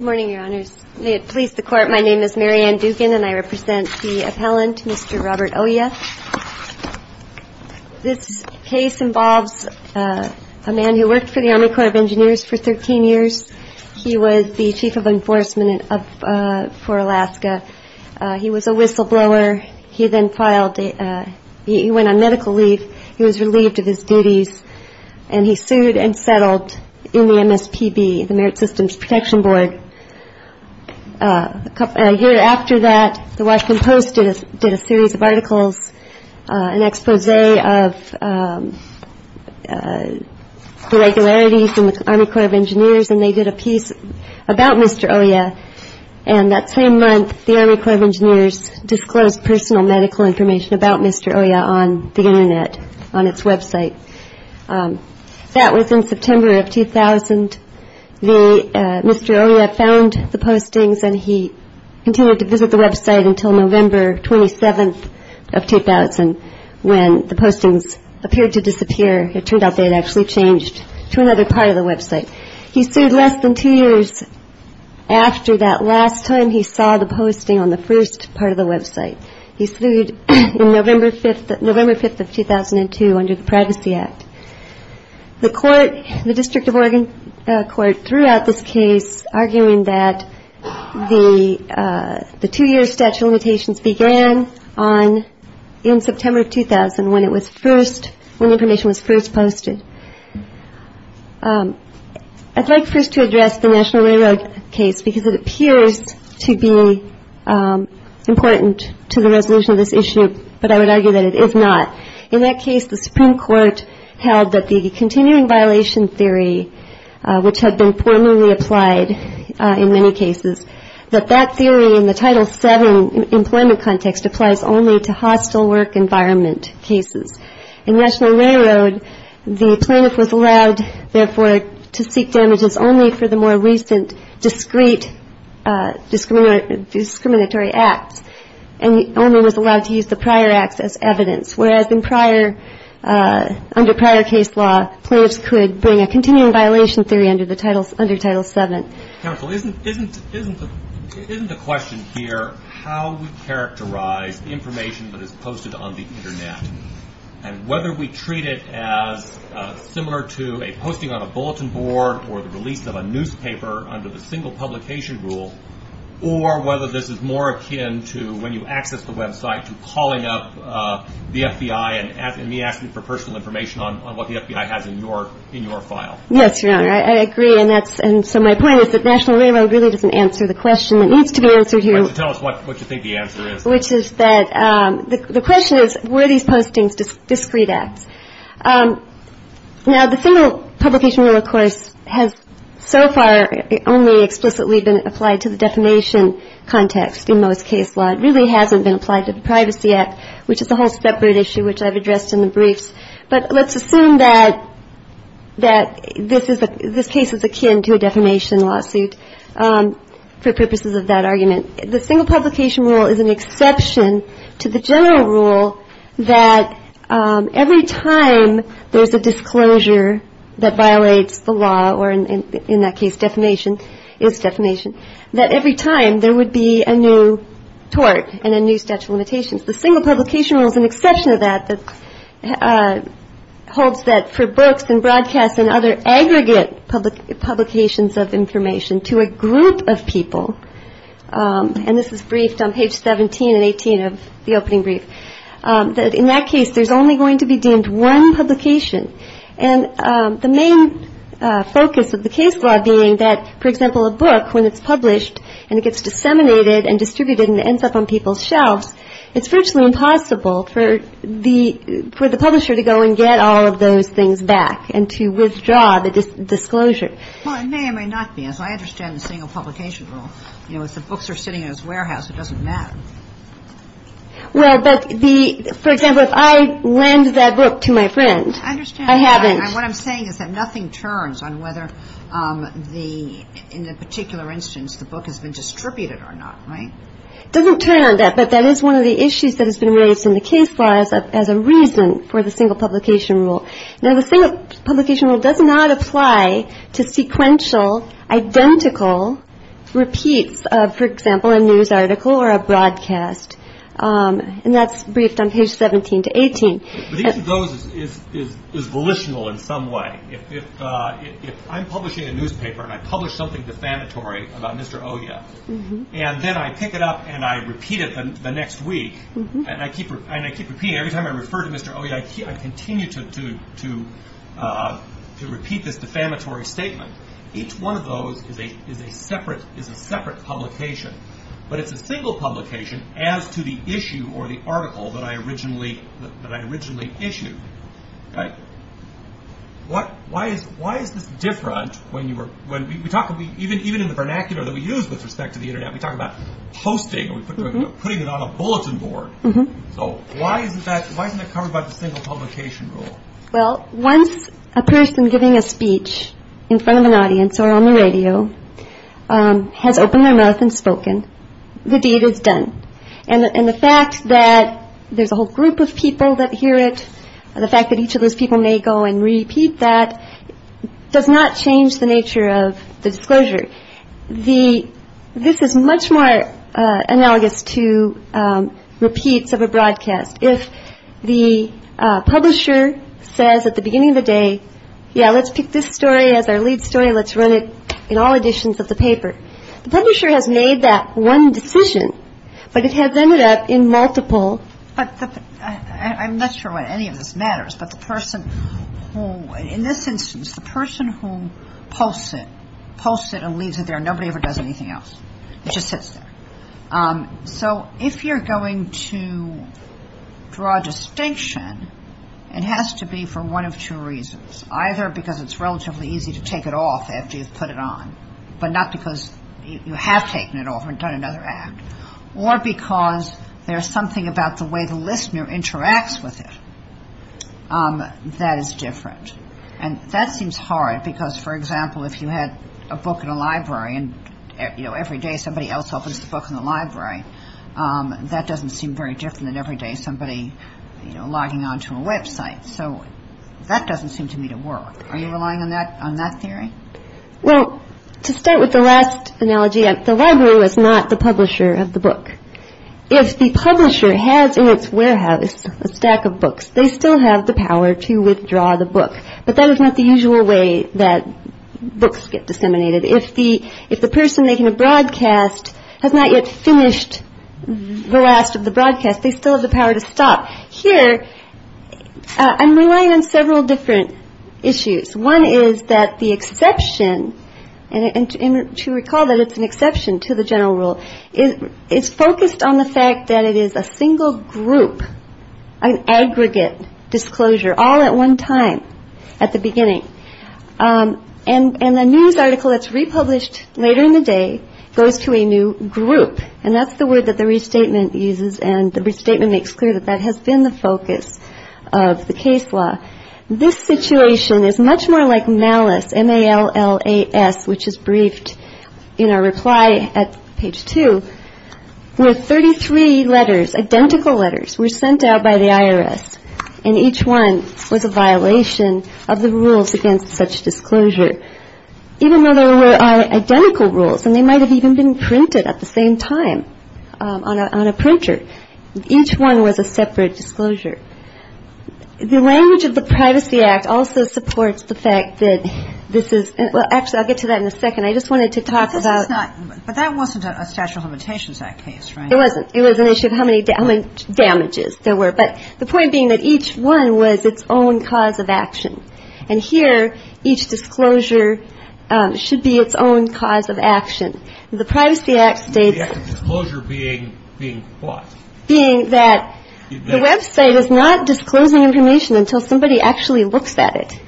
Good morning, Your Honors. May it please the Court, my name is Mary Ann Dugan and I represent the appellant, Mr. Robert Oja. This case involves a man who worked for the Army Corps of Engineers for 13 years. He was the Chief of Enforcement for Alaska. He was a whistleblower. He then filed, he went on medical leave. He was relieved of his duties and he sued and settled in the MSPB, the Merit Systems Protection Board. A year after that, the Washington Post did a series of articles, an expose of the regularities in the Army Corps of Engineers and they did a piece about Mr. Oja. And that same month, the Army Corps of Engineers disclosed personal medical information about Mr. Oja on the Internet, on its website. That was in September of 2000. Mr. Oja found the postings and he continued to visit the website until November 27th of 2000 when the postings appeared to disappear. It turned out they had actually changed to another part of the website. He sued less than two years after that last time he saw the posting on the first part of the website. He sued November 5th of 2002 under the Privacy Act. The court, the District of Oregon court threw out this case arguing that the two-year statute of limitations began on, in September of 2000 when the information was first posted. I'd like first to address the National Railroad case because it appears to be important to the resolution of this issue, but I would argue that it is not. In that case, the Supreme Court held that the continuing violation theory, which had been formally applied in many cases, that that theory in the Title VII employment context applies only to hostile work environment cases. In National Railroad, the plaintiff was allowed, therefore, to seek damages only for the more recent discreet discriminatory acts and only was allowed to use the prior acts as evidence, whereas under prior case law, plaintiffs could bring a continuing violation theory under Title VII. Counsel, isn't the question here how we characterize information that is posted on the Internet and whether we treat it as similar to a posting on a bulletin board or the release of a newspaper under the single publication rule or whether this is more akin to when you access the website to calling up the FBI and me asking for personal information on what the FBI has in your file? Yes, Your Honor, I agree, and so my point is that National Railroad really doesn't answer the question that needs to be answered here. Tell us what you think the answer is. Which is that the question is, were these postings discreet acts? Now, the single publication rule, of course, has so far only explicitly been applied to the defamation context in most case law. It really hasn't been applied to the Privacy Act, which is a whole separate issue which I've addressed in the briefs. But let's assume that this case is akin to a defamation lawsuit for purposes of that argument. The single publication rule is an exception to the general rule that every time there's a disclosure that violates the law or in that case defamation is defamation, that every time there would be a new tort and a new statute of limitations. The single publication rule is an exception to that that holds that for books and broadcasts and other aggregate publications of information to a group of people, and this is briefed on page 17 and 18 of the opening brief, that in that case there's only going to be deemed one publication. And the main focus of the case law being that, for example, a book, when it's published and it gets disseminated and distributed and ends up on people's shelves, it's virtually impossible for the publisher to go and get all of those things back and to withdraw the disclosure. Well, it may or may not be. As I understand the single publication rule, you know, if the books are sitting in this warehouse, it doesn't matter. Well, but the – for example, if I lend that book to my friend, I haven't. What I'm saying is that nothing turns on whether the – in a particular instance the book has been distributed or not, right? It doesn't turn on that, but that is one of the issues that has been raised in the case laws as a reason for the single publication rule. Now, the single publication rule does not apply to sequential, identical repeats of, for example, a news article or a broadcast. And that's briefed on page 17 to 18. But each of those is volitional in some way. If I'm publishing a newspaper and I publish something defamatory about Mr. Oya, and then I pick it up and I repeat it the next week, and I keep repeating it. Every time I refer to Mr. Oya, I continue to repeat this defamatory statement. Each one of those is a separate publication. But it's a single publication as to the issue or the article that I originally issued, right? Why is this different when you were – when we talk – even in the vernacular that we use with respect to the Internet, we talk about posting or putting it on a bulletin board. So why isn't that – why isn't that covered by the single publication rule? Well, once a person giving a speech in front of an audience or on the radio has opened their mouth and spoken, the deed is done. And the fact that there's a whole group of people that hear it, the fact that each of those people may go and repeat that does not change the nature of the disclosure. The – this is much more analogous to repeats of a broadcast. If the publisher says at the beginning of the day, yeah, let's pick this story as our lead story, let's run it in all editions of the paper. The publisher has made that one decision, but it has ended up in multiple. But the – I'm not sure why any of this matters, but the person who – in this instance, the person who posts it, posts it and leaves it there, nobody ever does anything else. It just sits there. So if you're going to draw a distinction, it has to be for one of two reasons. Either because it's relatively easy to take it off after you've put it on, but not because you have taken it off and done another act. Or because there's something about the way the listener interacts with it that is different. And that seems hard because, for example, if you had a book in a library and, you know, every day somebody else opens the book in the library, that doesn't seem very different than every day somebody, you know, logging onto a website. So that doesn't seem to me to work. Are you relying on that theory? Well, to start with the last analogy, the library was not the publisher of the book. If the publisher has in its warehouse a stack of books, they still have the power to withdraw the book. But that is not the usual way that books get disseminated. If the person making a broadcast has not yet finished the last of the broadcast, they still have the power to stop. Here, I'm relying on several different issues. One is that the exception, and to recall that it's an exception to the general rule, is focused on the fact that it is a single group, an aggregate disclosure, all at one time at the beginning. And the news article that's republished later in the day goes to a new group. And that's the word that the restatement uses. And the restatement makes clear that that has been the focus of the case law. This situation is much more like malice, M-A-L-L-A-S, which is briefed in our reply at page two, where 33 letters, identical letters, were sent out by the IRS. And each one was a violation of the rules against such disclosure. Even though they were identical rules, and they might have even been printed at the same time on a printer, each one was a separate disclosure. The language of the Privacy Act also supports the fact that this is an actual act. I'll get to that in a second. I just wanted to talk about... But that wasn't a Statute of Limitations Act case, right? It wasn't. It was an issue of how many damages there were. But the point being that each one was its own cause of action. And here, each disclosure should be its own cause of action. The Privacy Act states... The act of disclosure being what? Being that the Web site is not disclosing information until somebody actually looks at it.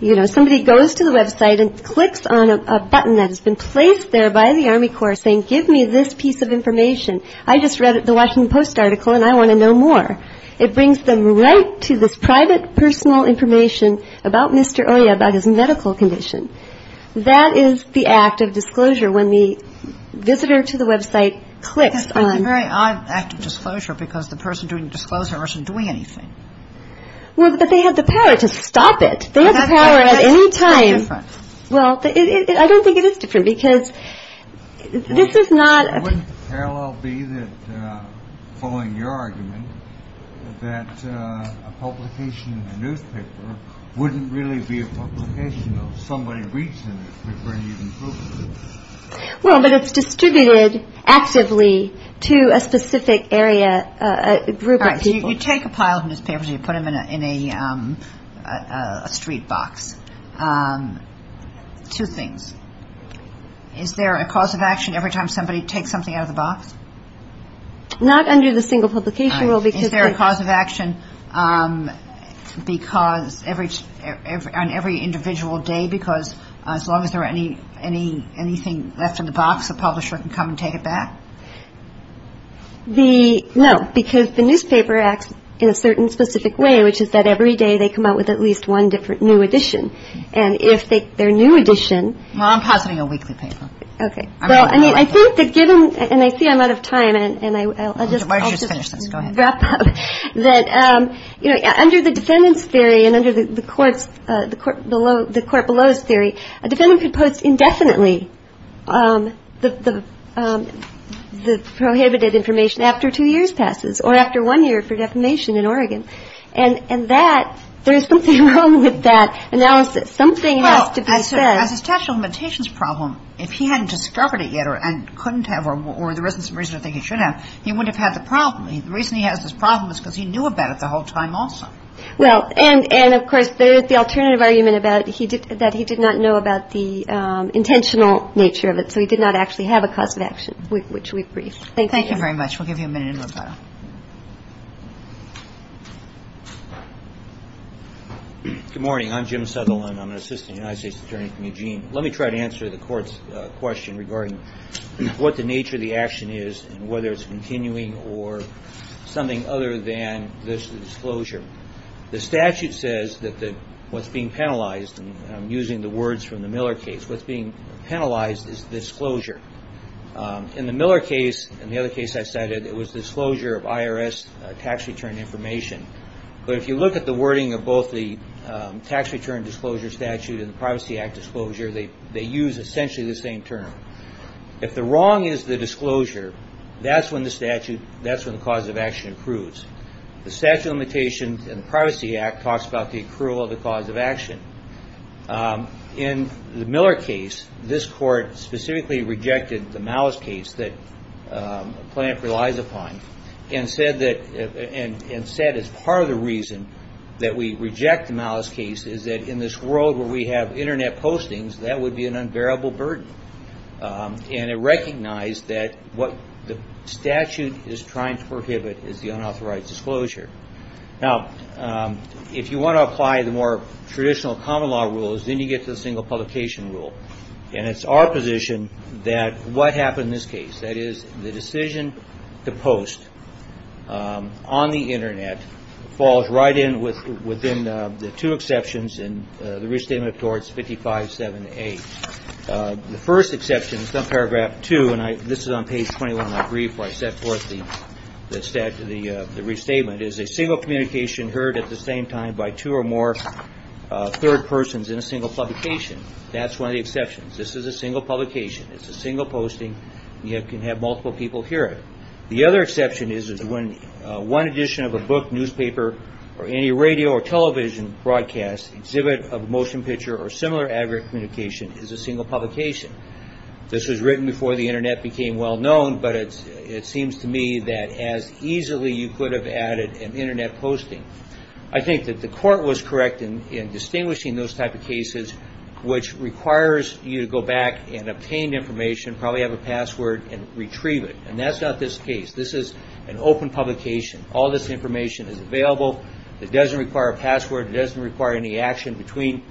You know, somebody goes to the Web site and clicks on a button that has been placed there by the Army Corps, saying, give me this piece of information. I just read the Washington Post article, and I want to know more. It brings them right to this private personal information about Mr. Oya about his medical condition. That is the act of disclosure when the visitor to the Web site clicks on... That's a very odd act of disclosure because the person doing the disclosure isn't doing anything. Well, but they have the power to stop it. They have the power at any time... That's different. Well, I don't think it is different because this is not... Wouldn't the parallel be that, following your argument, that a publication in a newspaper wouldn't really be a publication, though? Somebody reads in it. Well, but it's distributed actively to a specific area, a group of people. You take a pile of newspapers and you put them in a street box. Two things. Is there a cause of action every time somebody takes something out of the box? Not under the single publication rule because... Is there a cause of action on every individual day because as long as there is anything left in the box, a publisher can come and take it back? No, because the newspaper acts in a certain specific way, which is that every day they come out with at least one different new edition. And if their new edition... Well, I'm positing a weekly paper. Okay. I mean, I think that given... And I see I'm out of time and I'll just... Why don't you just finish this. Go ahead. Wrap up. That under the defendant's theory and under the court below's theory, a defendant could post indefinitely the prohibited information after two years passes or after one year for defamation in Oregon. And that, there is something wrong with that. And now something has to be said... Well, as a statute of limitations problem, if he hadn't discovered it yet and couldn't have or there isn't some reason to think he should have, he wouldn't have had the problem. The reason he has this problem is because he knew about it the whole time also. Well, and of course, there is the alternative argument that he did not know about the intentional nature of it, so he did not actually have a cause of action, which we agree. Thank you. Thank you very much. We'll give you a minute and we'll go. Good morning. I'm Jim Sutherland. I'm an assistant United States attorney from Eugene. Let me try to answer the court's question regarding what the nature of the action is and whether it's continuing or something other than this disclosure. The statute says that what's being penalized, and I'm using the words from the Miller case, what's being penalized is disclosure. In the Miller case and the other case I cited, it was disclosure of IRS tax return information, but if you look at the wording of both the tax return disclosure statute and the Privacy Act disclosure, they use essentially the same term. If the wrong is the disclosure, that's when the statute, that's when the cause of action approves. The statute of limitations and the Privacy Act talks about the approval of the cause of action. In the Miller case, this court specifically rejected the malice case that Plante relies upon and said it's part of the reason that we reject the malice case is that in this world where we have Internet postings, that would be an unbearable burden. And it recognized that what the statute is trying to prohibit is the unauthorized disclosure. Now, if you want to apply the more traditional common law rules, then you get to the single publication rule, and it's our position that what happened in this case, that is the decision to post on the Internet falls right in within the two exceptions in the restatement towards 55-7A. The first exception is paragraph 2, and this is on page 21 of my brief where I set forth the restatement, is a single communication heard at the same time by two or more third persons in a single publication. That's one of the exceptions. This is a single publication. It's a single posting. You can have multiple people hear it. The other exception is when one edition of a book, newspaper, or any radio or television broadcast, exhibit of motion picture or similar aggregate communication is a single publication. This was written before the Internet became well known, but it seems to me that as easily you could have added an Internet posting. I think that the court was correct in distinguishing those type of cases which requires you to go back and obtain information, probably have a password, and retrieve it. And that's not this case. This is an open publication. All this information is available. It doesn't require a password. It doesn't require any action between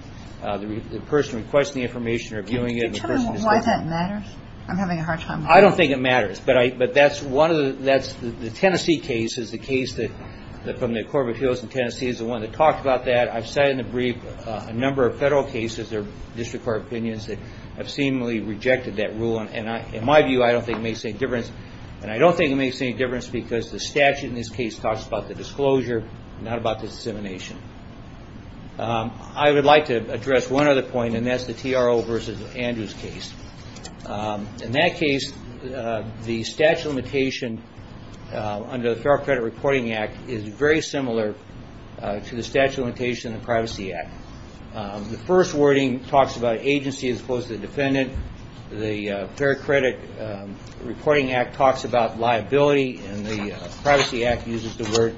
the person requesting the information or viewing it and the person disclosing it. Can you tell me why that matters? I'm having a hard time with this. I don't think it matters. But that's one of the... The Tennessee case is the case from the Court of Appeals in Tennessee is the one that talked about that. I've cited in the brief a number of federal cases or district court opinions that have seemingly rejected that rule. In my view, I don't think it makes any difference. And I don't think it makes any difference because the statute in this case talks about the disclosure, not about the dissemination. I would like to address one other point, and that's the TRO versus Andrews case. In that case, the statute of limitation under the Fair Credit Reporting Act is very similar to the statute of limitation in the Privacy Act. The first wording talks about agency as opposed to the defendant. The Fair Credit Reporting Act talks about liability, and the Privacy Act uses the word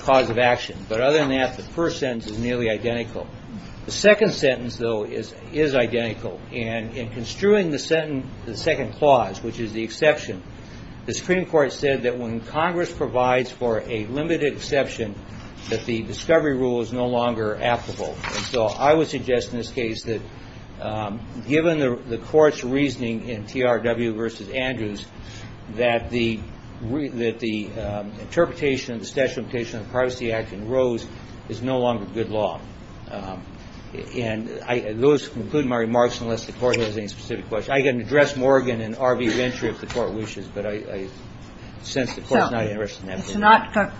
cause of action. But other than that, the first sentence is nearly identical. The second sentence, though, is identical and in construing the second clause, which is the exception, the Supreme Court said that when Congress provides for a limited exception, that the discovery rule is no longer applicable. And so I would suggest in this case that given the Court's reasoning in TRW versus Andrews that the interpretation of the statute of limitation of the Privacy Act in Rose is no longer good law. And those conclude my remarks unless the Court has any specific questions. I can address Morgan and RV eventually if the Court wishes, but I sense the Court's not interested in that. So it's not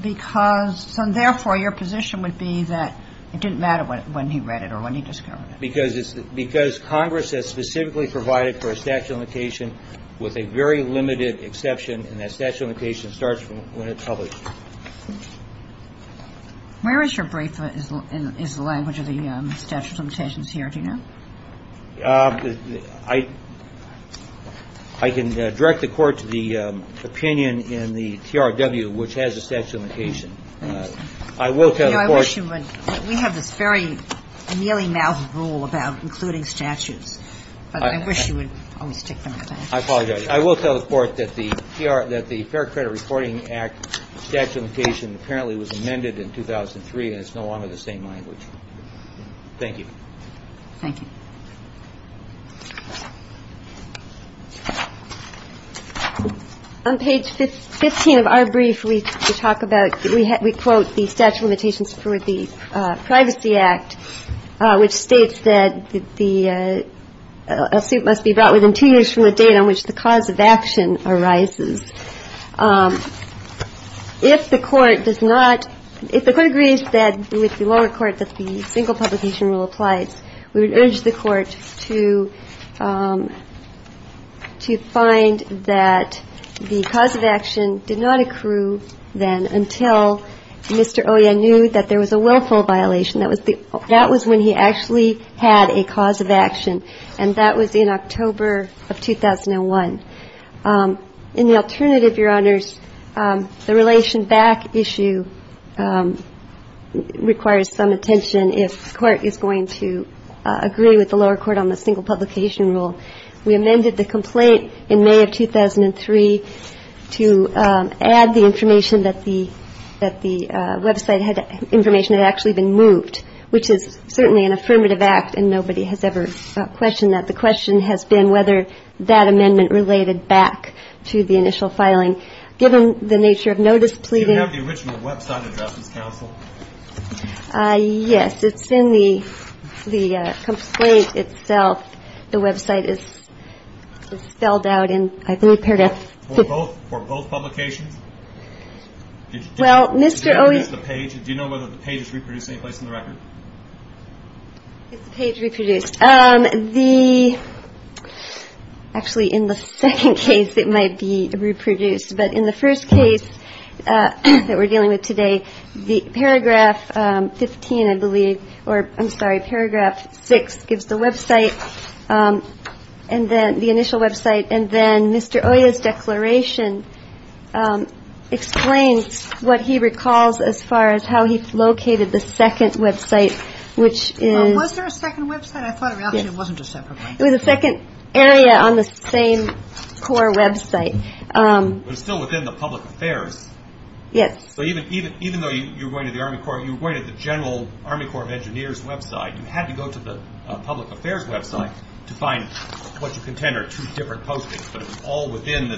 because – so therefore your position would be that it didn't matter when he read it or when he discovered it. Because Congress has specifically provided for a statute of limitation with a very limited exception, and that statute of limitation starts when it's published. Where is your brief? Is the language of the statute of limitations here? Do you know? I can direct the Court to the opinion in the TRW which has a statute of limitation. I will tell the Court – I wish you would. We have this very mealy-mouthed rule about including statutes. But I wish you would always stick to that. I apologize. I will tell the Court that the Fair Credit Reporting Act statute of limitation apparently was amended in 2003, and it's no longer the same language. Thank you. Thank you. On page 15 of our brief, we talk about – we quote the statute of limitations for the Privacy Act, which states that the suit must be brought within two years from the date on which the cause of action arises. If the Court does not – if the Court agrees with the lower court that the single publication rule applies, we would urge the Court to find that the cause of action did not accrue then until Mr. Oya knew that there was a willful violation. That was when he actually had a cause of action, and that was in October of 2001. In the alternative, Your Honors, the relation back issue requires some attention if the Court is going to agree with the lower court on the single publication rule. We amended the complaint in May of 2003 to add the information that the website had – information that had actually been moved, which is certainly an affirmative act, and nobody has ever questioned that. The question has been whether that amendment related back to the initial filing. Given the nature of notice pleading – Do you have the original website address as counsel? Yes. It's in the complaint itself. The website is spelled out in – I've been prepared to – For both publications? Well, Mr. Oya – It's the page. Do you know whether the page is reproduced anyplace in the record? It's the page reproduced. The – actually, in the second case, it might be reproduced. But in the first case that we're dealing with today, the paragraph 15, I believe – or, I'm sorry, paragraph 6 gives the website, and then – the initial website. And then Mr. Oya's declaration explains what he recalls as far as how he located the second website, which is – Was there a second website? I thought, actually, it wasn't just separately. It was a second area on the same Corps website. But it's still within the public affairs. Yes. So even though you were going to the Army Corps, you were going to the general Army Corps of Engineers website. You had to go to the public affairs website to find what you contend are two different postings. But it was all within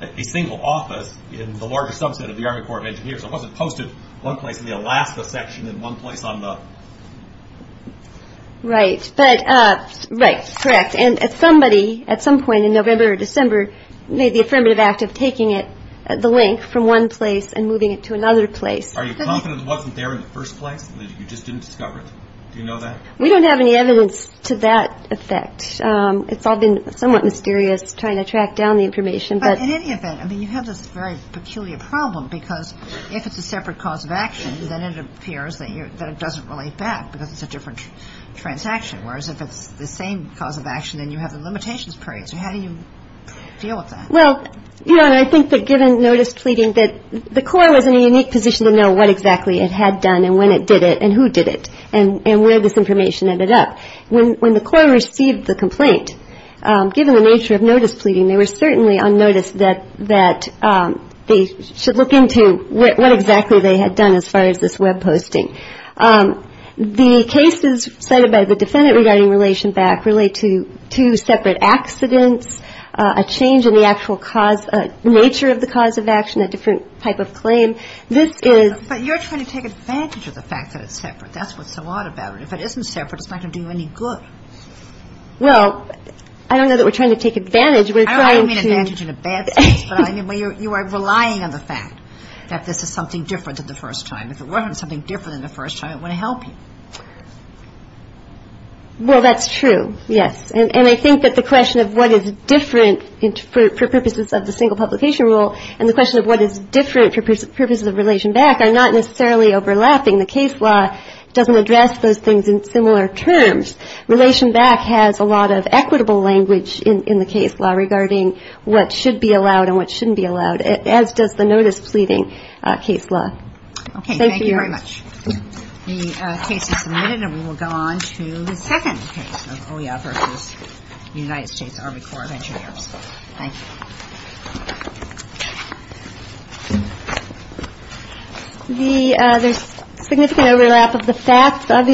a single office in the larger subset of the Army Corps of Engineers. It wasn't posted one place in the Alaska section and one place on the – Right. But – right. Correct. And somebody, at some point in November or December, made the affirmative act of taking it, the link, from one place and moving it to another place. Are you confident it wasn't there in the first place, that you just didn't discover it? Do you know that? We don't have any evidence to that effect. It's all been somewhat mysterious, trying to track down the information. But in any event, I mean, you have this very peculiar problem because if it's a separate cause of action, then it appears that it doesn't relate back because it's a different transaction. Whereas if it's the same cause of action, then you have the limitations period. So how do you deal with that? Well, you know, and I think that given notice pleading, that the Corps was in a unique position to know what exactly it had done and when it did it and who did it and where this information ended up. When the Corps received the complaint, given the nature of notice pleading, they were certainly on notice that they should look into what exactly they had done as far as this web posting. The cases cited by the defendant regarding relation back relate to two separate accidents, a change in the actual nature of the cause of action, a different type of claim. But you're trying to take advantage of the fact that it's separate. That's what's so odd about it. If it isn't separate, it's not going to do you any good. Well, I don't know that we're trying to take advantage. I don't mean advantage in a bad sense, but I mean you are relying on the fact that this is something different than the first time. If it wasn't something different than the first time, it wouldn't help you. Well, that's true, yes. And I think that the question of what is different for purposes of the single publication rule and the question of what is different for purposes of relation back are not necessarily overlapping. The case law doesn't address those things in similar terms. Relation back has a lot of equitable language in the case law regarding what should be allowed and what shouldn't be allowed, as does the notice pleading case law. Okay. Thank you very much. The case is submitted, and we will go on to the second case of OEI versus the United States Army Corps of Engineers. Thank you. Thank you.